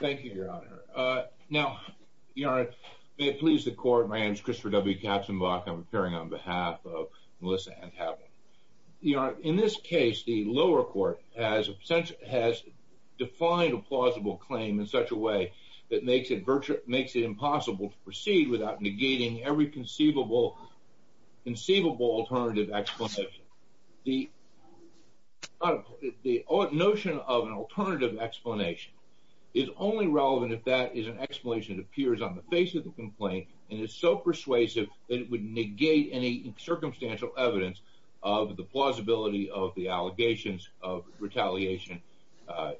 Thank you, Your Honor. Now, Your Honor, may it please the court, my name is Christopher W. Katzenbach. I'm appearing on behalf of Melissa Antablin. Your Honor, in this case, the lower court has defined a plausible claim in such a way that makes it impossible to proceed without negating every conceivable alternative explanation. The notion of an alternative explanation is only relevant if that is an explanation that appears on the face of the complaint and is so persuasive that it would negate any circumstantial evidence of the plausibility of the allegations of retaliation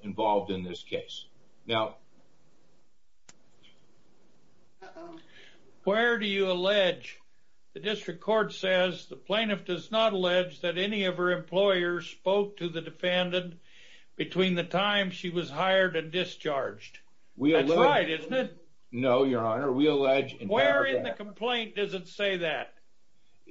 involved in this case. Now, where do you allege? The district court says the plaintiff does not allege that any of her employers spoke to the defendant between the time she was hired and discharged. That's right, isn't it? No, Your Honor, we allege... Where in the complaint does it say that?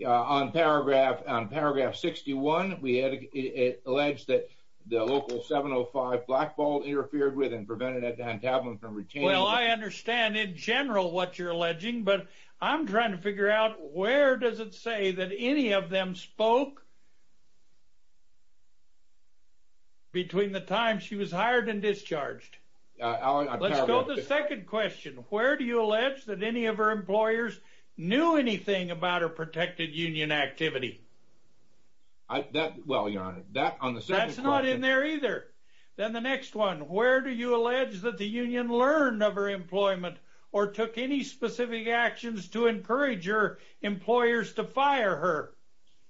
On paragraph 61, we allege that the local 705 blackball interfered with and prevented Antablin from retaining... Well, I understand in general what you're alleging, but I'm trying to figure out where does it say that any of them spoke between the time she was hired and discharged. Let's go to the second question. Where do you allege that any of her employers knew anything about her protected union activity? Well, Your Honor, that on the second question... That's not in there either. Then the next one, where do you allege that the union learned of her employment or took any specific actions to encourage her employers to fire her?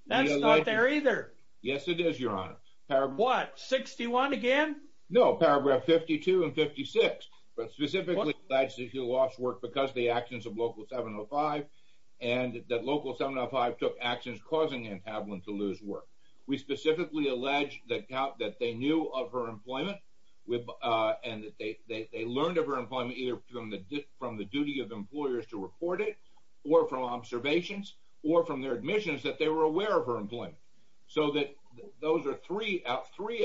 That's not there either. Yes, it is, Your Honor. What? 61 again? No, paragraph 52 and 56, but specifically that she lost work because of the actions of local 705 and that local 705 took actions causing Antablin to lose work. We specifically allege that they knew of her employment and that they learned of her employment either from the duty of employers to report it or from observations or from their admissions that they were aware of her employment. So that those are three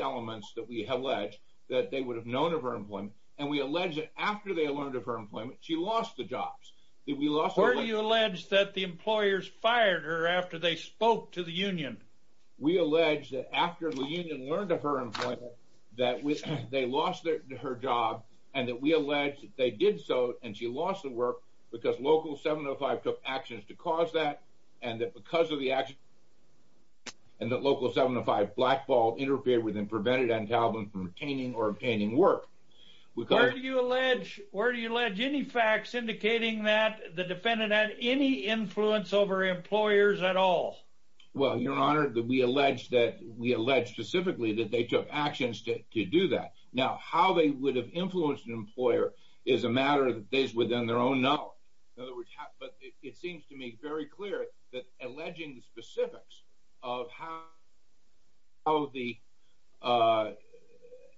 elements that we allege that they would have known of her employment, and we allege that after they learned of her employment, she lost the jobs. Where do you allege that the employers fired her after they spoke to the union? We allege that after the union learned of her employment, that they lost her job, and that we allege that they did so and she lost the work because local 705 took actions to cause that, and that because of the actions, and that local 705 blackballed, interfered with, and prevented Antablin from retaining or obtaining work. Where do you allege any facts indicating that the defendant had any influence over employers at all? Well, Your Honor, we allege specifically that they took actions to do that. Now, how they would have influenced an employer is a matter that is within their own knowledge. But it seems to me very clear that alleging the specifics of how the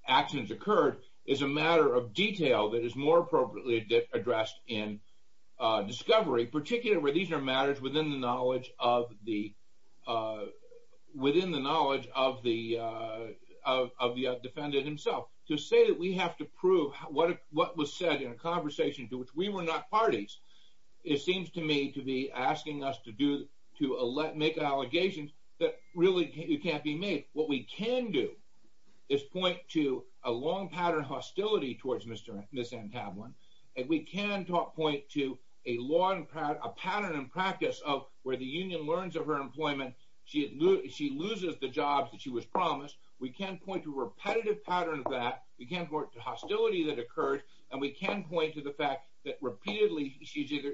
actions occurred is a matter of detail that is more appropriately addressed in discovery, particularly where these are matters within the knowledge of the defendant himself. To say that we have to prove what was said in a conversation to which we were not parties, it seems to me to be asking us to make allegations that really can't be made. What we can do is point to a long pattern of hostility towards Ms. Antablin, and we can point to a pattern and practice of where the union learns of her employment, she loses the jobs that she was promised. We can point to a repetitive pattern of that, we can point to hostility that occurred, and we can point to the fact that repeatedly,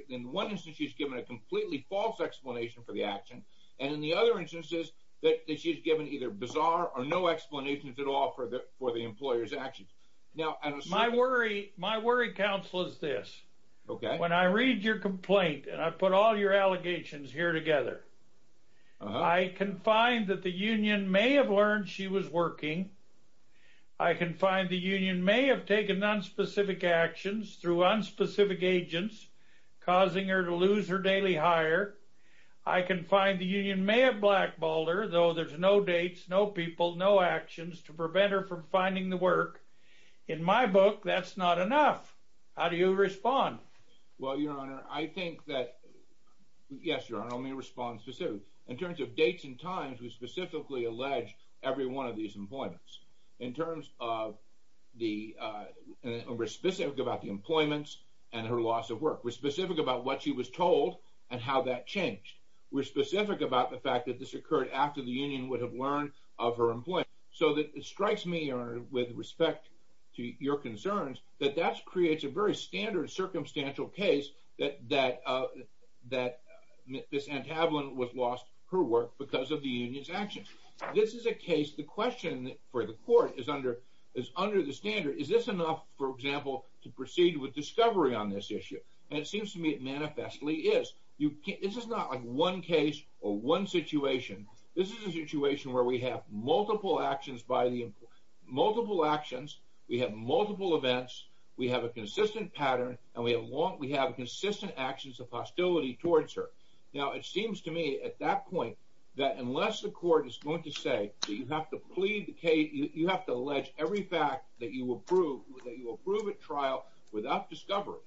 in one instance she's given a completely false explanation for the action, and in the other instances that she's given either bizarre or no explanations at all for the employer's actions. My worry, counsel, is this. When I read your complaint and I put all your allegations here together, I can find that the union may have learned she was working, I can find the union may have taken nonspecific actions through unspecific agents causing her to lose her daily hire, I can find the union may have blackballed her, though there's no dates, no people, no actions to prevent her from finding the work. In my book, that's not enough. How do you respond? Well, Your Honor, I think that – yes, Your Honor, let me respond specifically. In terms of dates and times, we specifically allege every one of these employments. In terms of the – we're specific about the employments and her loss of work. We're specific about what she was told and how that changed. We're specific about the fact that this occurred after the union would have learned of her employment. So it strikes me, Your Honor, with respect to your concerns, that that creates a very standard circumstantial case that this entablant was lost her work because of the union's actions. This is a case – the question for the court is under the standard, is this enough, for example, to proceed with discovery on this issue? And it seems to me it manifestly is. This is not like one case or one situation. This is a situation where we have multiple actions by the – multiple actions, we have multiple events, we have a consistent pattern, and we have long – we have consistent actions of hostility towards her. Now, it seems to me at that point that unless the court is going to say that you have to plead the case – you have to allege every fact that you will prove – that you will prove at trial without discovery,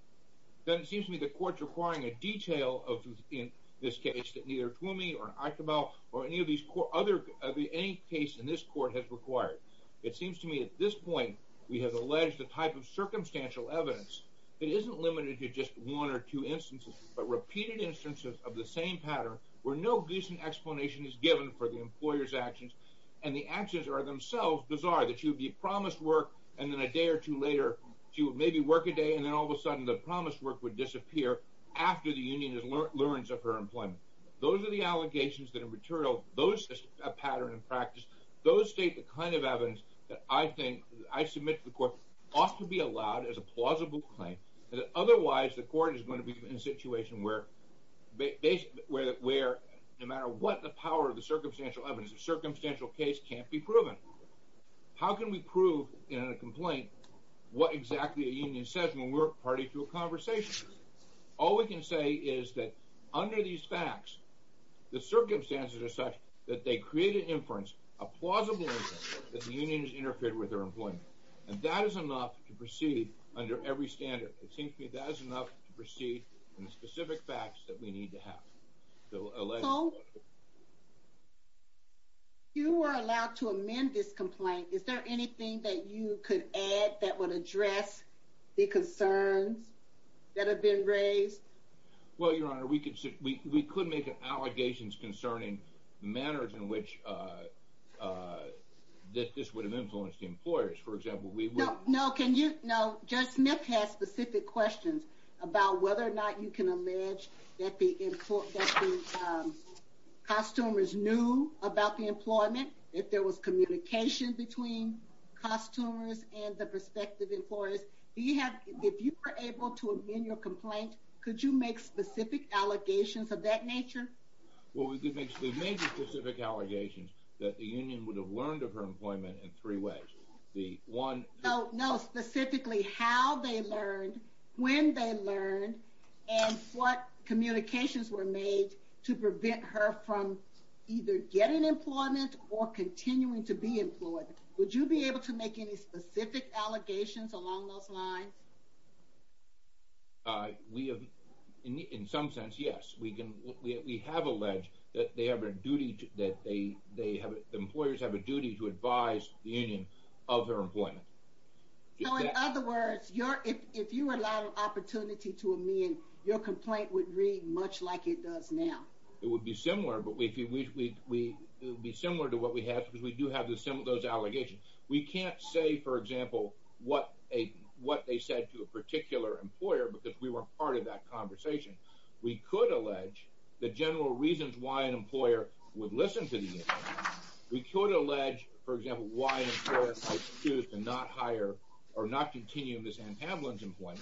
then it seems to me the court's requiring a detail of – in this case, that neither Twomey or Akebel or any of these other – any case in this court has required. It seems to me at this point we have alleged a type of circumstantial evidence that isn't limited to just one or two instances, but repeated instances of the same pattern where no decent explanation is given for the employer's actions, and the actions are themselves bizarre, that she would be promised work, and then a day or two later she would maybe work a day, and then all of a sudden the promised work would disappear after the union has learned of her employment. Those are the allegations that are material – those patterns of practice, those state the kind of evidence that I think – I submit to the court ought to be allowed as a plausible claim, because otherwise the court is going to be in a situation where – where no matter what the power of the circumstantial evidence, a circumstantial case can't be proven. How can we prove in a complaint what exactly a union said when we're party to a conversation? All we can say is that under these facts, the circumstances are such that they create an inference, a plausible inference, that the union has interfered with her employment, and that is enough to proceed under every standard. It seems to me that is enough to proceed in the specific facts that we need to have. So, if you were allowed to amend this complaint, is there anything that you could add that would address the concerns that have been raised? Well, Your Honor, we could make allegations concerning manners in which this would have influenced the employers. For example, we would – No, can you – no, Judge Smith has specific questions about whether or not you can allege that the costumers knew about the employment, if there was communication between costumers and the prospective employers. Do you have – if you were able to amend your complaint, could you make specific allegations of that nature? Well, we could make specific allegations that the union would have learned of her employment in three ways. The one – No, specifically how they learned, when they learned, and what communications were made to prevent her from either getting employment or continuing to be employed. Would you be able to make any specific allegations along those lines? We have – in some sense, yes. We can – we have alleged that they have a duty to – that they have – employers have a duty to advise the union of their employment. So, in other words, your – if you were allowed an opportunity to amend, your complaint would read much like it does now? It would be similar, but we – it would be similar to what we have, because we do have those allegations. We can't say, for example, what a – what they said to a particular employer, because we weren't part of that conversation. We could allege the general reasons why an employer would listen to the union. We could allege, for example, why an employer might choose to not hire or not continue Ms. Ann Pavlin's employment.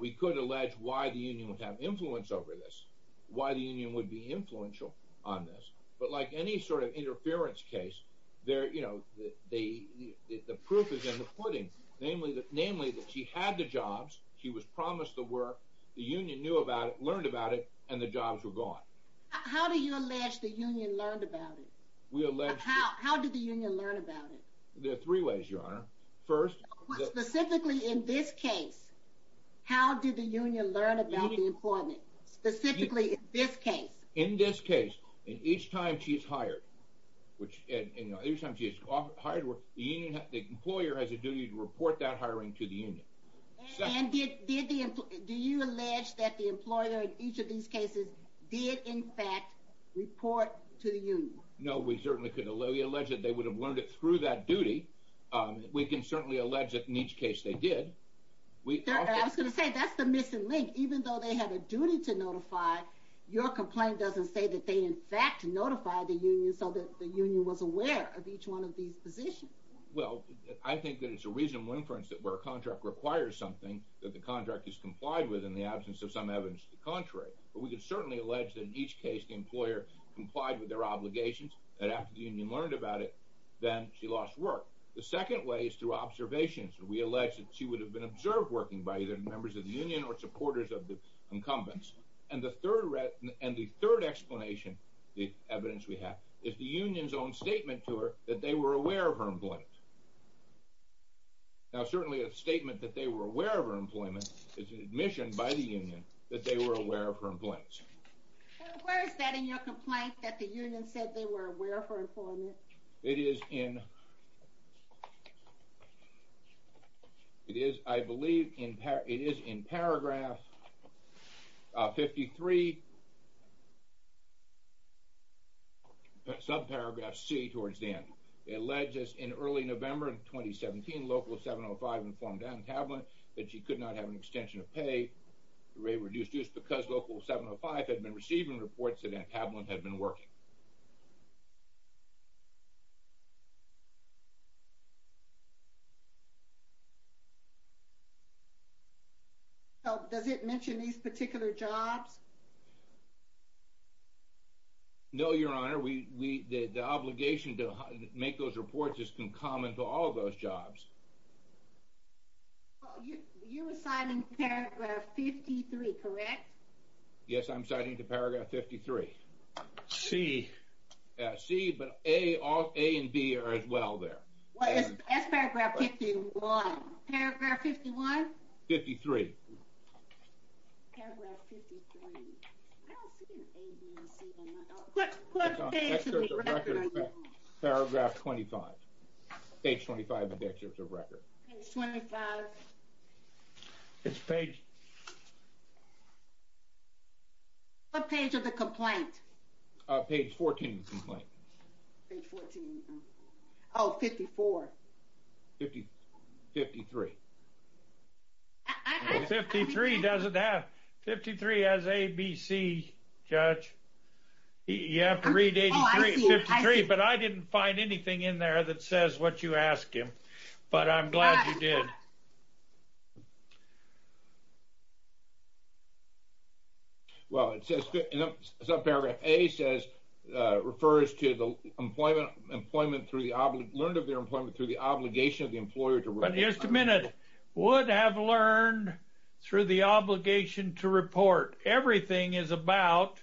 We could allege why the union would have influence over this, why the union would be influential on this. But like any sort of interference case, there – you know, the proof is in the pudding, namely that she had the jobs, she was promised the work, the union knew about it, learned about it, and the jobs were gone. How do you allege the union learned about it? We allege – How did the union learn about it? There are three ways, Your Honor. First – But specifically in this case, how did the union learn about the employment, specifically in this case? In this case, each time she is hired, which – and each time she is hired, the union – the employer has a duty to report that hiring to the union. And did the – do you allege that the employer in each of these cases did, in fact, report to the union? No, we certainly could allege that they would have learned it through that duty. We can certainly allege that in each case they did. I was going to say, that's the missing link. Even though they had a duty to notify, your complaint doesn't say that they, in fact, notified the union so that the union was aware of each one of these positions. Well, I think that it's a reasonable inference that where a contract requires something, that the contract is complied with in the absence of some evidence to the contrary. But we can certainly allege that in each case the employer complied with their obligations, and after the union learned about it, then she lost work. The second way is through observations. We allege that she would have been observed working by either members of the union or supporters of the incumbents. And the third explanation, the evidence we have, is the union's own statement to her that they were aware of her employment. Now, certainly a statement that they were aware of her employment is an admission by the union that they were aware of her employment. Where is that in your complaint, that the union said they were aware of her employment? Well, it is in paragraph 53, subparagraph C towards the end. It alleges in early November of 2017, Local 705 informed Ann Tablin that she could not have an extension of pay, reduced use, because Local 705 had been receiving reports that Ann Tablin had been working. Does it mention these particular jobs? No, Your Honor. The obligation to make those reports is concomitant to all of those jobs. You were signing paragraph 53, correct? Yes, I'm signing to paragraph 53. C. C, but A and B are as well there. Well, that's paragraph 51. Paragraph 51? 53. Paragraph 53. I don't see an A, B, and C on my document. What page of the record are you on? Paragraph 25. Page 25 of the excerpt of record. Page 25. It's page... What page of the complaint? Page 14 of the complaint. Page 14. Oh, 54. 53. 53 doesn't have... 53 has A, B, C, Judge. You have to read 83 and 53, but I didn't find anything in there that says what you asked him, but I'm glad you did. Well, it says... it's not paragraph... A says... refers to the employment through the... learned of their employment through the obligation of the employer to... But here's the minute. Would have learned through the obligation to report. Everything is about...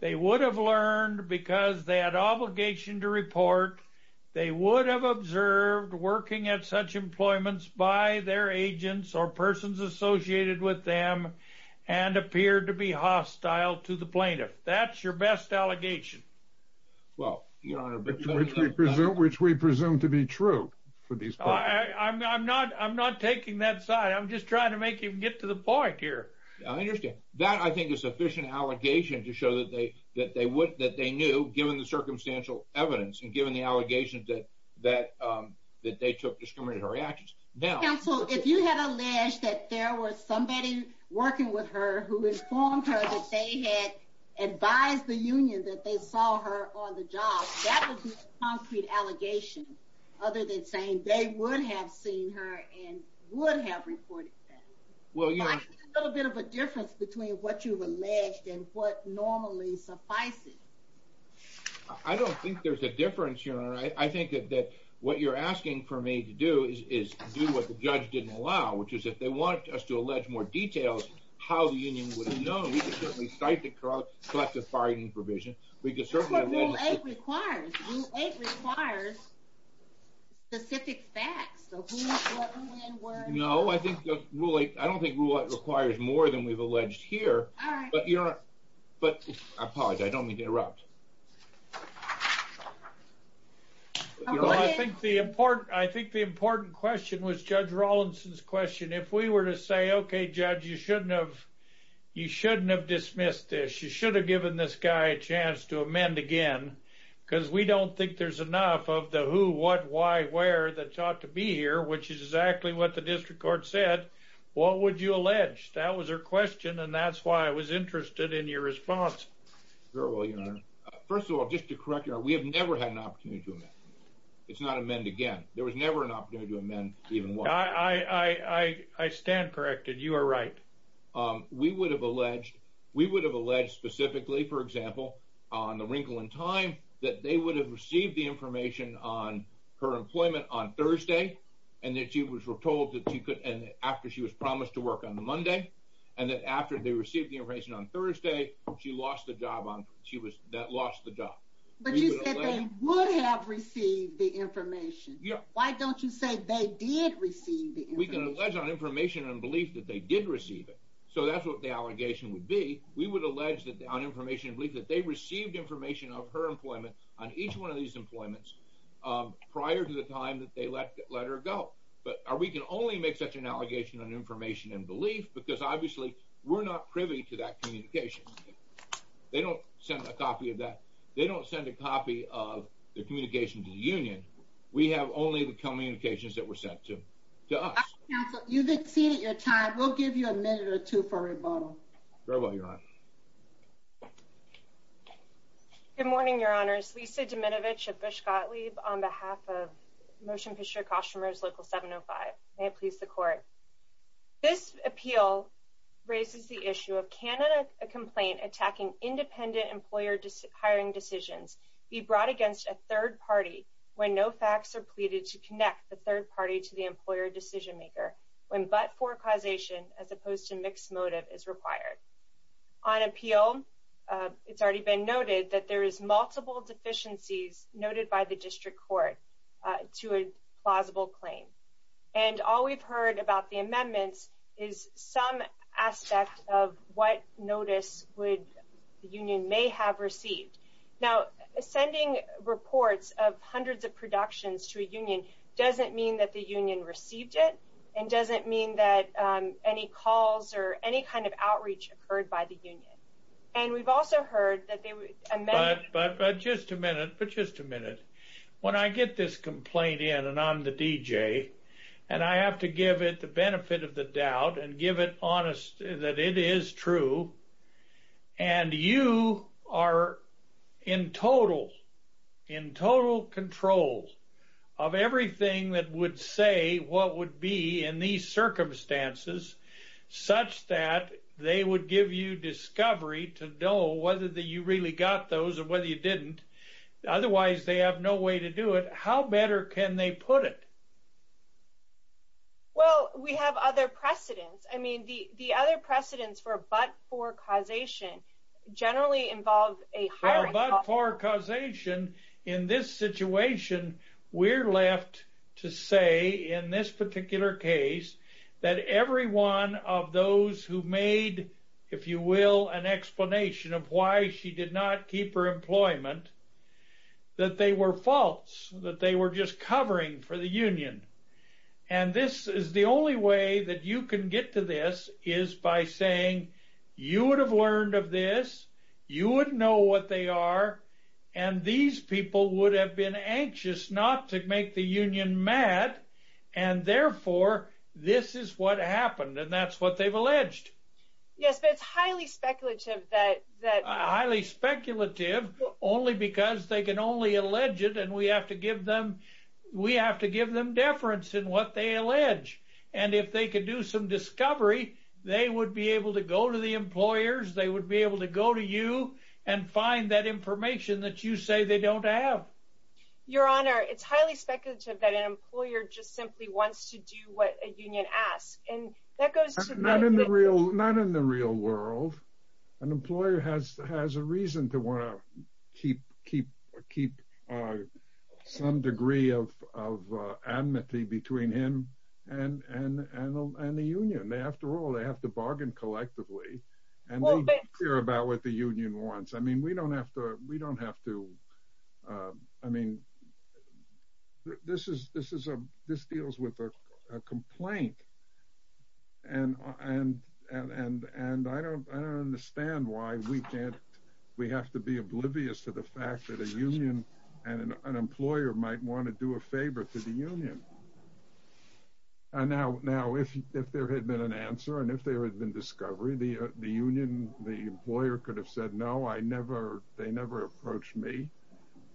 they would have learned because they had obligation to report. They would have observed working at such employments by their agents or persons associated with them and appeared to be hostile to the plaintiff. That's your best allegation. Well, Your Honor, but... Which we presume to be true for these people. I'm not taking that side. I'm just trying to make you get to the point here. I understand. That, I think, is sufficient allegation to show that they would... that they knew given the circumstantial evidence and given the allegations that they took discriminatory actions. Counsel, if you had alleged that there was somebody working with her who informed her that they had advised the union that they saw her on the job, that would be a concrete allegation other than saying they would have seen her and would have reported that. Well, you know... I think there's a little bit of a difference between what you've alleged and what normally suffices. I don't think there's a difference, Your Honor. I think that what you're asking for me to do is do what the judge didn't allow, which is if they want us to allege more details, how the union would have known, we could certainly cite the collective bargaining provision. That's what Rule 8 requires. Rule 8 requires specific facts. The who, what, when, where... No, I don't think Rule 8 requires more than we've alleged here. All right. But, Your Honor, I apologize. I don't mean to interrupt. I think the important question was Judge Rawlinson's question. If we were to say, okay, Judge, you shouldn't have dismissed this, you should have given this guy a chance to amend again, because we don't think there's enough of the who, what, why, where that ought to be here, which is exactly what the district court said, what would you allege? That was her question, and that's why I was interested in your response. Very well, Your Honor. First of all, just to correct Your Honor, we have never had an opportunity to amend. It's not amend again. There was never an opportunity to amend even once. I stand corrected. You are right. We would have alleged, we would have alleged specifically, for example, on the wrinkle in time, that they would have received the information on her employment on Thursday, and that she was told that she could, and after she was promised to work on the Monday, and that after they received the information on Thursday, she lost the job on, she was, that lost the job. But you said they would have received the information. Yeah. Why don't you say they did receive the information? We would allege on information and belief that they did receive it. So that's what the allegation would be. We would allege that on information and belief that they received information of her employment on each one of these employments prior to the time that they let her go. But we can only make such an allegation on information and belief because obviously we're not privy to that communication. They don't send a copy of that. They don't send a copy of the communication to the union. We have only the communications that were sent to us. Counsel, you've exceeded your time. We'll give you a minute or two for rebuttal. Very well, Your Honor. Good morning, Your Honors. Lisa Domenovich of Bush Gottlieb on behalf of Motion Picture Costumers Local 705. May it please the Court. This appeal raises the issue of can a complaint attacking independent employer hiring decisions be brought against a third party when no facts are pleaded to connect the third party to the employer decision maker when but-for causation as opposed to mixed motive is required? On appeal, it's already been noted that there is multiple deficiencies noted by the district court to a plausible claim. And all we've heard about the amendments is some aspect of what notice would the union may have received. Now, sending reports of hundreds of productions to a union doesn't mean that the union received it and doesn't mean that any calls or any kind of outreach occurred by the union. And we've also heard that they would amend... But just a minute, but just a minute. When I get this complaint in, and I'm the DJ, and I have to give it the benefit of the doubt and give it honest that it is true, and you are in total control of everything that would say what would be in these circumstances such that they would give you discovery to know whether you really got those or whether you didn't. Otherwise, they have no way to do it. How better can they put it? Well, we have other precedents. I mean, the other precedents for a but-for causation generally involve a hiring... A but-for causation in this situation, we're left to say in this particular case that every one of those who made, if you will, an explanation of why she did not keep her employment, that they were false, that they were just covering for the union. And this is the only way that you can get to this is by saying, you would have learned of this, you would know what they are, and these people would have been anxious not to make the union mad, and therefore, this is what happened. And that's what they've alleged. Yes, but it's highly speculative that... Only because they can only allege it, and we have to give them deference in what they allege. And if they could do some discovery, they would be able to go to the employers, they would be able to go to you and find that information that you say they don't have. Your Honor, it's highly speculative that an employer just simply wants to do what a union asks. Not in the real world. An employer has a reason to want to keep some degree of amity between him and the union. After all, they have to bargain collectively, and they care about what the union wants. I mean, we don't have to... I mean, this deals with a complaint, and I don't understand why we have to be oblivious to the fact that a union and an employer might want to do a favor to the union. Now, if there had been an answer, and if there had been discovery, the employer could have said, no, they never approached me,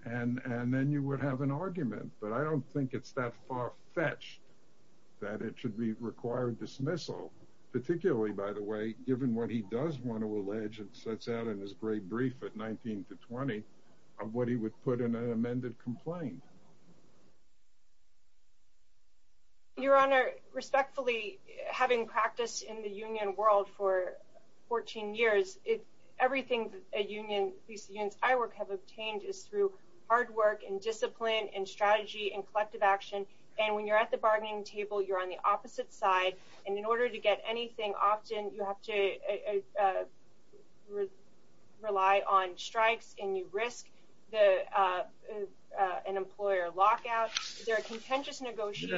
and then you would have an argument. But I don't think it's that far-fetched that it should be required dismissal. Particularly, by the way, given what he does want to allege, and sets out in his great brief at 19 to 20, of what he would put in an amended complaint. Your Honor, respectfully, having practiced in the union world for 14 years, everything that these unions I work have obtained is through hard work and discipline and strategy and collective action. And when you're at the bargaining table, you're on the opposite side. And in order to get anything, often you have to rely on strikes, and you risk an employer lockout. Yeah,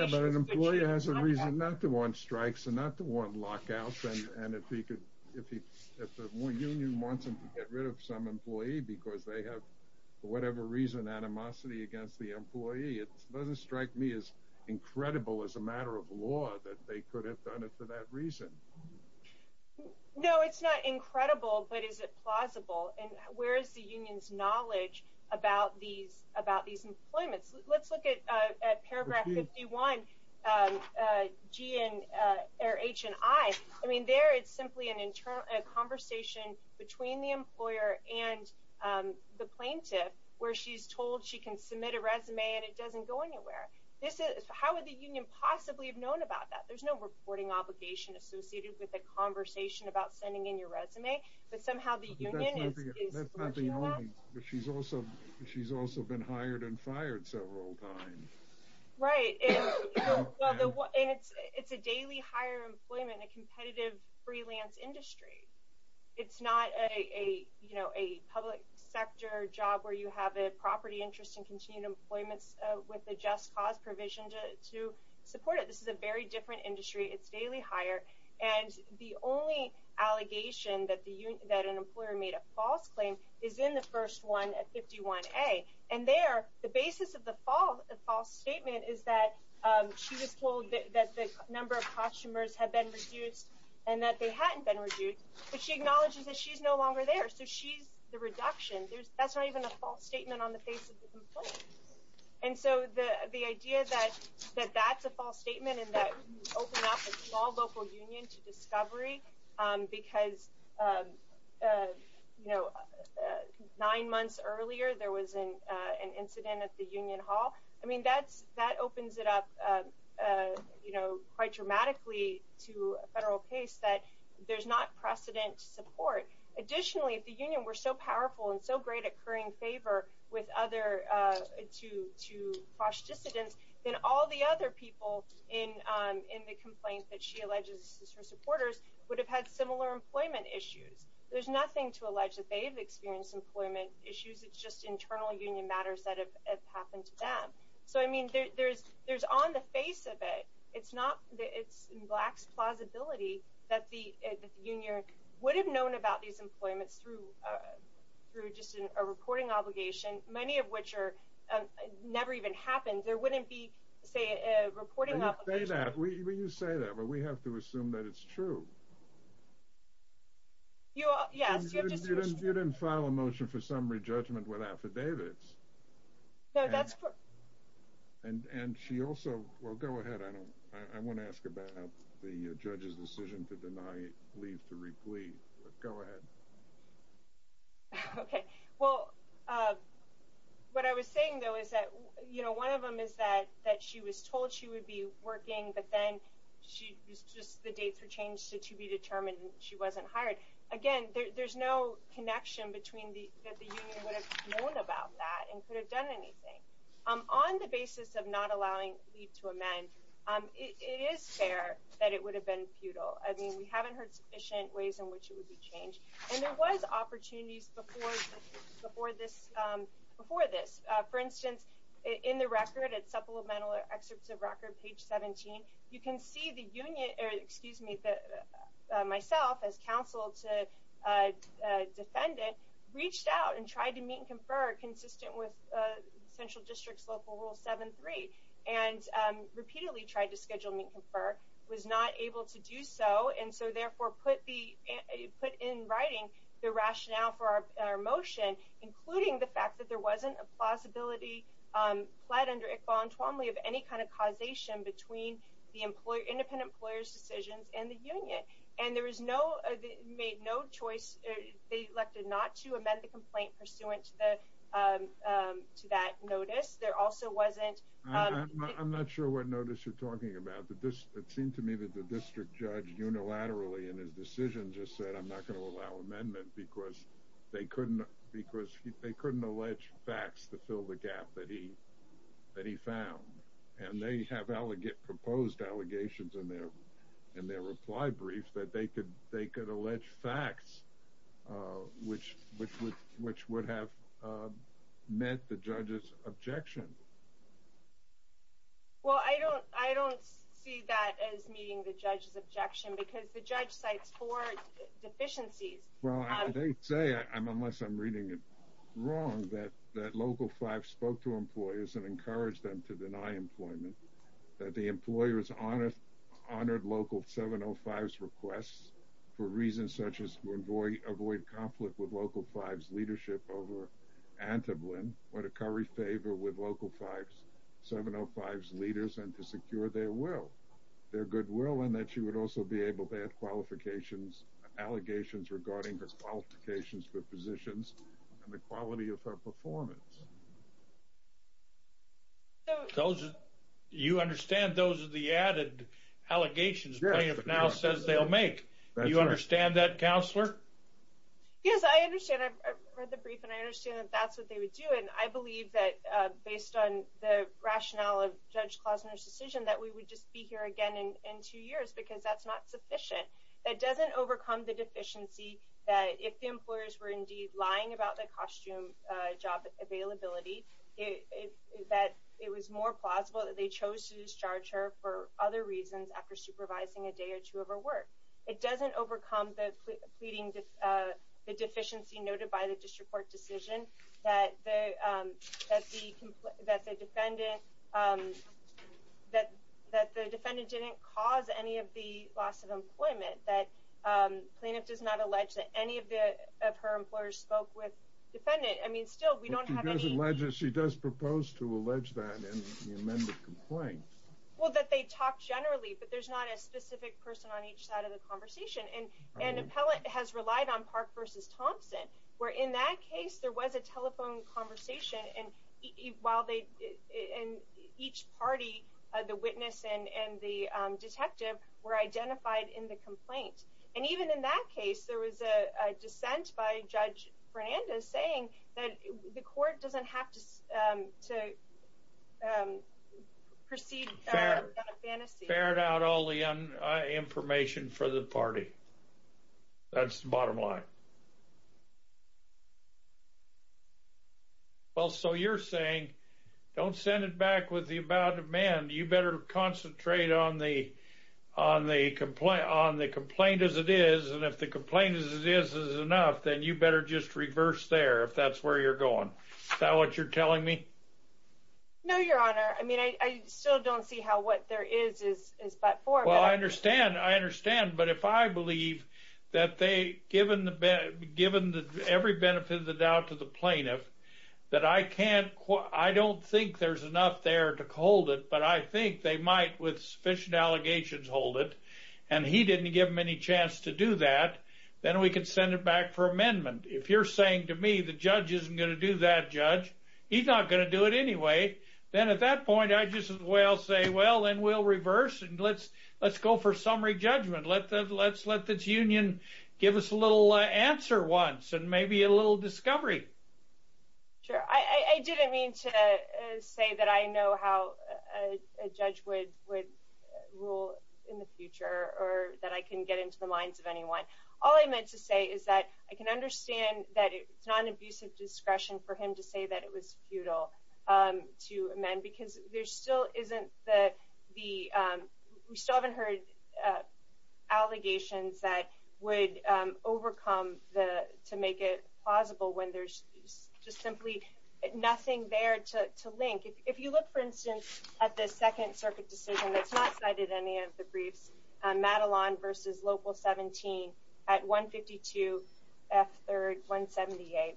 but an employer has a reason not to want strikes and not to want lockouts. And if the union wants them to get rid of some employee because they have, for whatever reason, animosity against the employee, it doesn't strike me as incredible as a matter of law that they could have done it for that reason. No, it's not incredible, but is it plausible? And where is the union's knowledge about these employments? Let's look at paragraph 51, H&I. I mean, there it's simply a conversation between the employer and the plaintiff where she's told she can submit a resume and it doesn't go anywhere. How would the union possibly have known about that? There's no reporting obligation associated with a conversation about sending in your resume, but somehow the union is... But she's also been hired and fired several times. Right, and it's a daily hire employment in a competitive freelance industry. It's not a public sector job where you have a property interest in continuing employment with a just cause provision to support it. This is a very different industry. It's daily hire. And the only allegation that an employer made a false claim is in the first one at 51A. And there, the basis of the false statement is that she was told that the number of customers had been reduced and that they hadn't been reduced. But she acknowledges that she's no longer there, so she's the reduction. That's not even a false statement on the face of the complaint. And so the idea that that's a false statement and that opened up a small local union to discovery because nine months earlier there was an incident at the union hall, I mean, that opens it up quite dramatically to a federal case that there's not precedent to support. Additionally, if the union were so powerful and so great at currying favor to false dissidents, then all the other people in the complaint that she alleges were supporters would have had similar employment issues. There's nothing to allege that they've experienced employment issues. It's just internal union matters that have happened to them. So, I mean, there's on the face of it, it's in black's plausibility that the union would have known about these employments through just a reporting obligation, many of which never even happened. There wouldn't be, say, a reporting obligation. You say that, but we have to assume that it's true. Yes. You didn't file a motion for summary judgment with affidavits. No, that's correct. And she also, well, go ahead. I want to ask about the judge's decision to deny leave to repleave. Go ahead. Okay. Well, what I was saying, though, is that, you know, one of them is that she was told she would be working, but then just the dates were changed to be determined she wasn't hired. Again, there's no connection that the union would have known about that and could have done anything. On the basis of not allowing leave to amend, it is fair that it would have been futile. I mean, we haven't heard sufficient ways in which it would be changed. And there was opportunities before this. For instance, in the record, it's supplemental excerpts of record, page 17. You can see the union, or excuse me, myself as counsel to defendant, reached out and tried to meet and confer consistent with central district's local rule 7-3 and repeatedly tried to schedule meet and confer, was not able to do so, and so therefore put in writing the rationale for our motion, including the fact that there wasn't a possibility pled under Iqbal and Twombly of any kind of causation between the independent employer's decisions and the union. And there was no choice. They elected not to amend the complaint pursuant to that notice. There also wasn't – I'm not sure what notice you're talking about. It seemed to me that the district judge unilaterally in his decision just said, I'm not going to allow amendment because they couldn't allege facts to fill the gap that he found. And they have proposed allegations in their reply brief that they could allege facts which would have met the judge's objection. Well, I don't see that as meeting the judge's objection because the judge cites four deficiencies. Well, I did say, unless I'm reading it wrong, that Local 5 spoke to employers and encouraged them to deny employment, that the employers honored Local 705's requests for reasons such as to avoid conflict with Local 5's leadership over Anteblen, or to curry favor with Local 705's leaders and to secure their will, their goodwill, and that you would also be able to add qualifications, allegations regarding the qualifications for positions and the quality of her performance. You understand those are the added allegations Plaintiff now says they'll make. Do you understand that, Counselor? Yes, I understand. I've read the brief and I understand that that's what they would do. And I believe that based on the rationale of Judge Klausner's decision that we would just be here again in two years because that's not sufficient. That doesn't overcome the deficiency that if the employers were indeed lying about the costume job availability, that it was more plausible that they chose to discharge her for other reasons after supervising a day or two of her work. It doesn't overcome the deficiency noted by the District Court decision that the defendant didn't cause any of the loss of employment, that Plaintiff does not allege that any of her employers spoke with defendant. I mean, still, we don't have any... She does propose to allege that in the amended complaint. Well, that they talked generally, but there's not a specific person on each side of the conversation. Where in that case, there was a telephone conversation and each party, the witness and the detective were identified in the complaint. And even in that case, there was a dissent by Judge Fernandez saying that the court doesn't have to proceed... Spared out all the information for the party. That's the bottom line. Well, so you're saying, don't send it back with the about demand. You better concentrate on the complaint as it is. And if the complaint as it is is enough, then you better just reverse there if that's where you're going. Is that what you're telling me? No, Your Honor. I mean, I still don't see how what there is is but for... Well, I understand. I understand. But if I believe that they, given every benefit of the doubt to the Plaintiff, that I can't... I don't think there's enough there to hold it, but I think they might with sufficient allegations hold it. And he didn't give him any chance to do that. Then we could send it back for amendment. If you're saying to me the judge isn't going to do that, Judge, he's not going to do it anyway, then at that point I just as well say, well, then we'll reverse and let's go for summary judgment. Let's let this union give us a little answer once and maybe a little discovery. Sure. I didn't mean to say that I know how a judge would rule in the future or that I can get into the minds of anyone. All I meant to say is that I can understand that it's not an abusive discretion for him to say that it was futile to amend because there still isn't the... we still haven't heard allegations that would overcome to make it plausible when there's just simply nothing there to link. If you look, for instance, at the Second Circuit decision that's not cited in any of the briefs, Madelon v. Local 17 at 152 F. 3rd 178,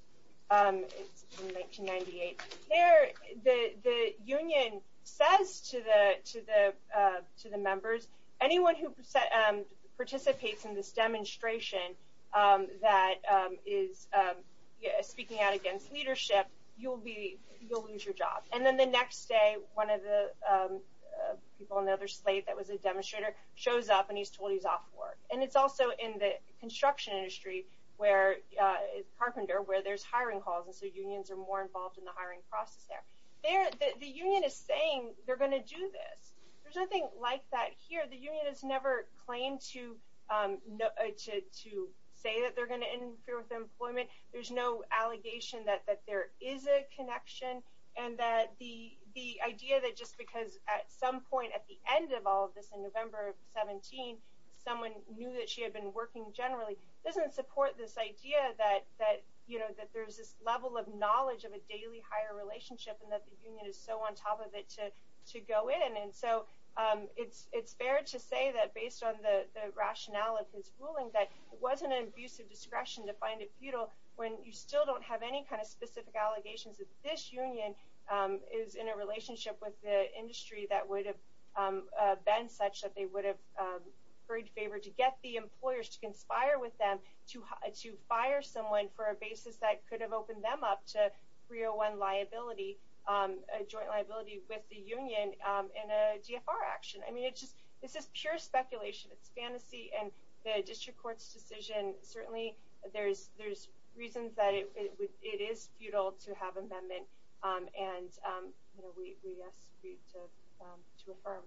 it's from 1998. There the union says to the members, anyone who participates in this demonstration that is speaking out against leadership, you'll lose your job. And then the next day, one of the people on the other slate that was a demonstrator shows up and he's told he's off work. And it's also in the construction industry, Carpenter, where there's hiring calls, and so unions are more involved in the hiring process there. The union is saying they're going to do this. There's nothing like that here. The union has never claimed to say that they're going to interfere with employment. There's no allegation that there is a connection and that the idea that just because at some point, at the end of all of this in November of 17, someone knew that she had been working generally, doesn't support this idea that there's this level of knowledge of a daily hire relationship and that the union is so on top of it to go in. And so it's fair to say that based on the rationale of his ruling, that it wasn't an abuse of discretion to find it futile when you still don't have any kind of specific allegations that this union is in a relationship with the industry that would have been such that they would have agreed to favor to get the employers to conspire with them to fire someone for a basis that could have opened them up to 301 liability, a joint liability with the union in a GFR action. I mean, it's just pure speculation. It's fantasy. And the district court's decision, certainly there's reasons that it is futile to have amendment. And we ask for you to affirm.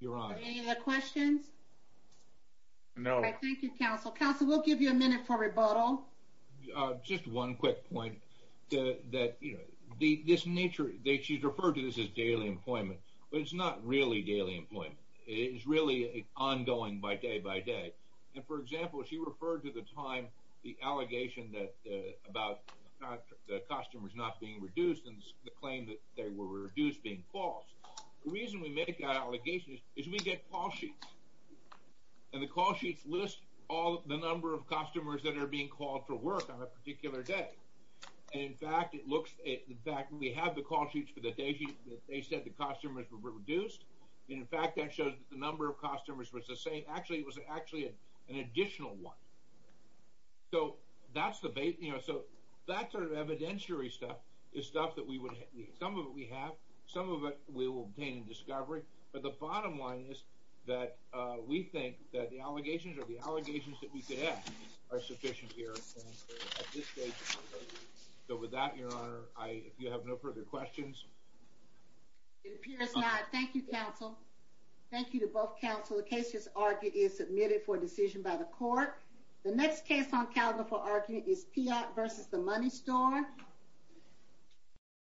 You're on. Any other questions? No. Thank you, counsel. Counsel, we'll give you a minute for rebuttal. Just one quick point. This nature, she's referred to this as daily employment, but it's not really daily employment. It is really ongoing by day by day. And for example, she referred to the time the allegation about the customers not being reduced and the claim that they were reduced being false. The reason we make that allegation is we get call sheets. And the call sheets list all the number of customers that are being called for work on a particular day. And in fact, we have the call sheets for the day they said the customers were reduced. And in fact, that shows that the number of customers was the same. Actually, it was actually an additional one. So that sort of evidentiary stuff is stuff that we would have. Some of it we have. Some of it we will obtain in discovery. But the bottom line is that we think that the allegations or the allegations that we could have are sufficient here. So with that, Your Honor, if you have no further questions. It appears not. Thank you, counsel. Thank you to both counsel. The case is argued is submitted for decision by the court. The next case on calendar for argument is Piott versus the Money Store.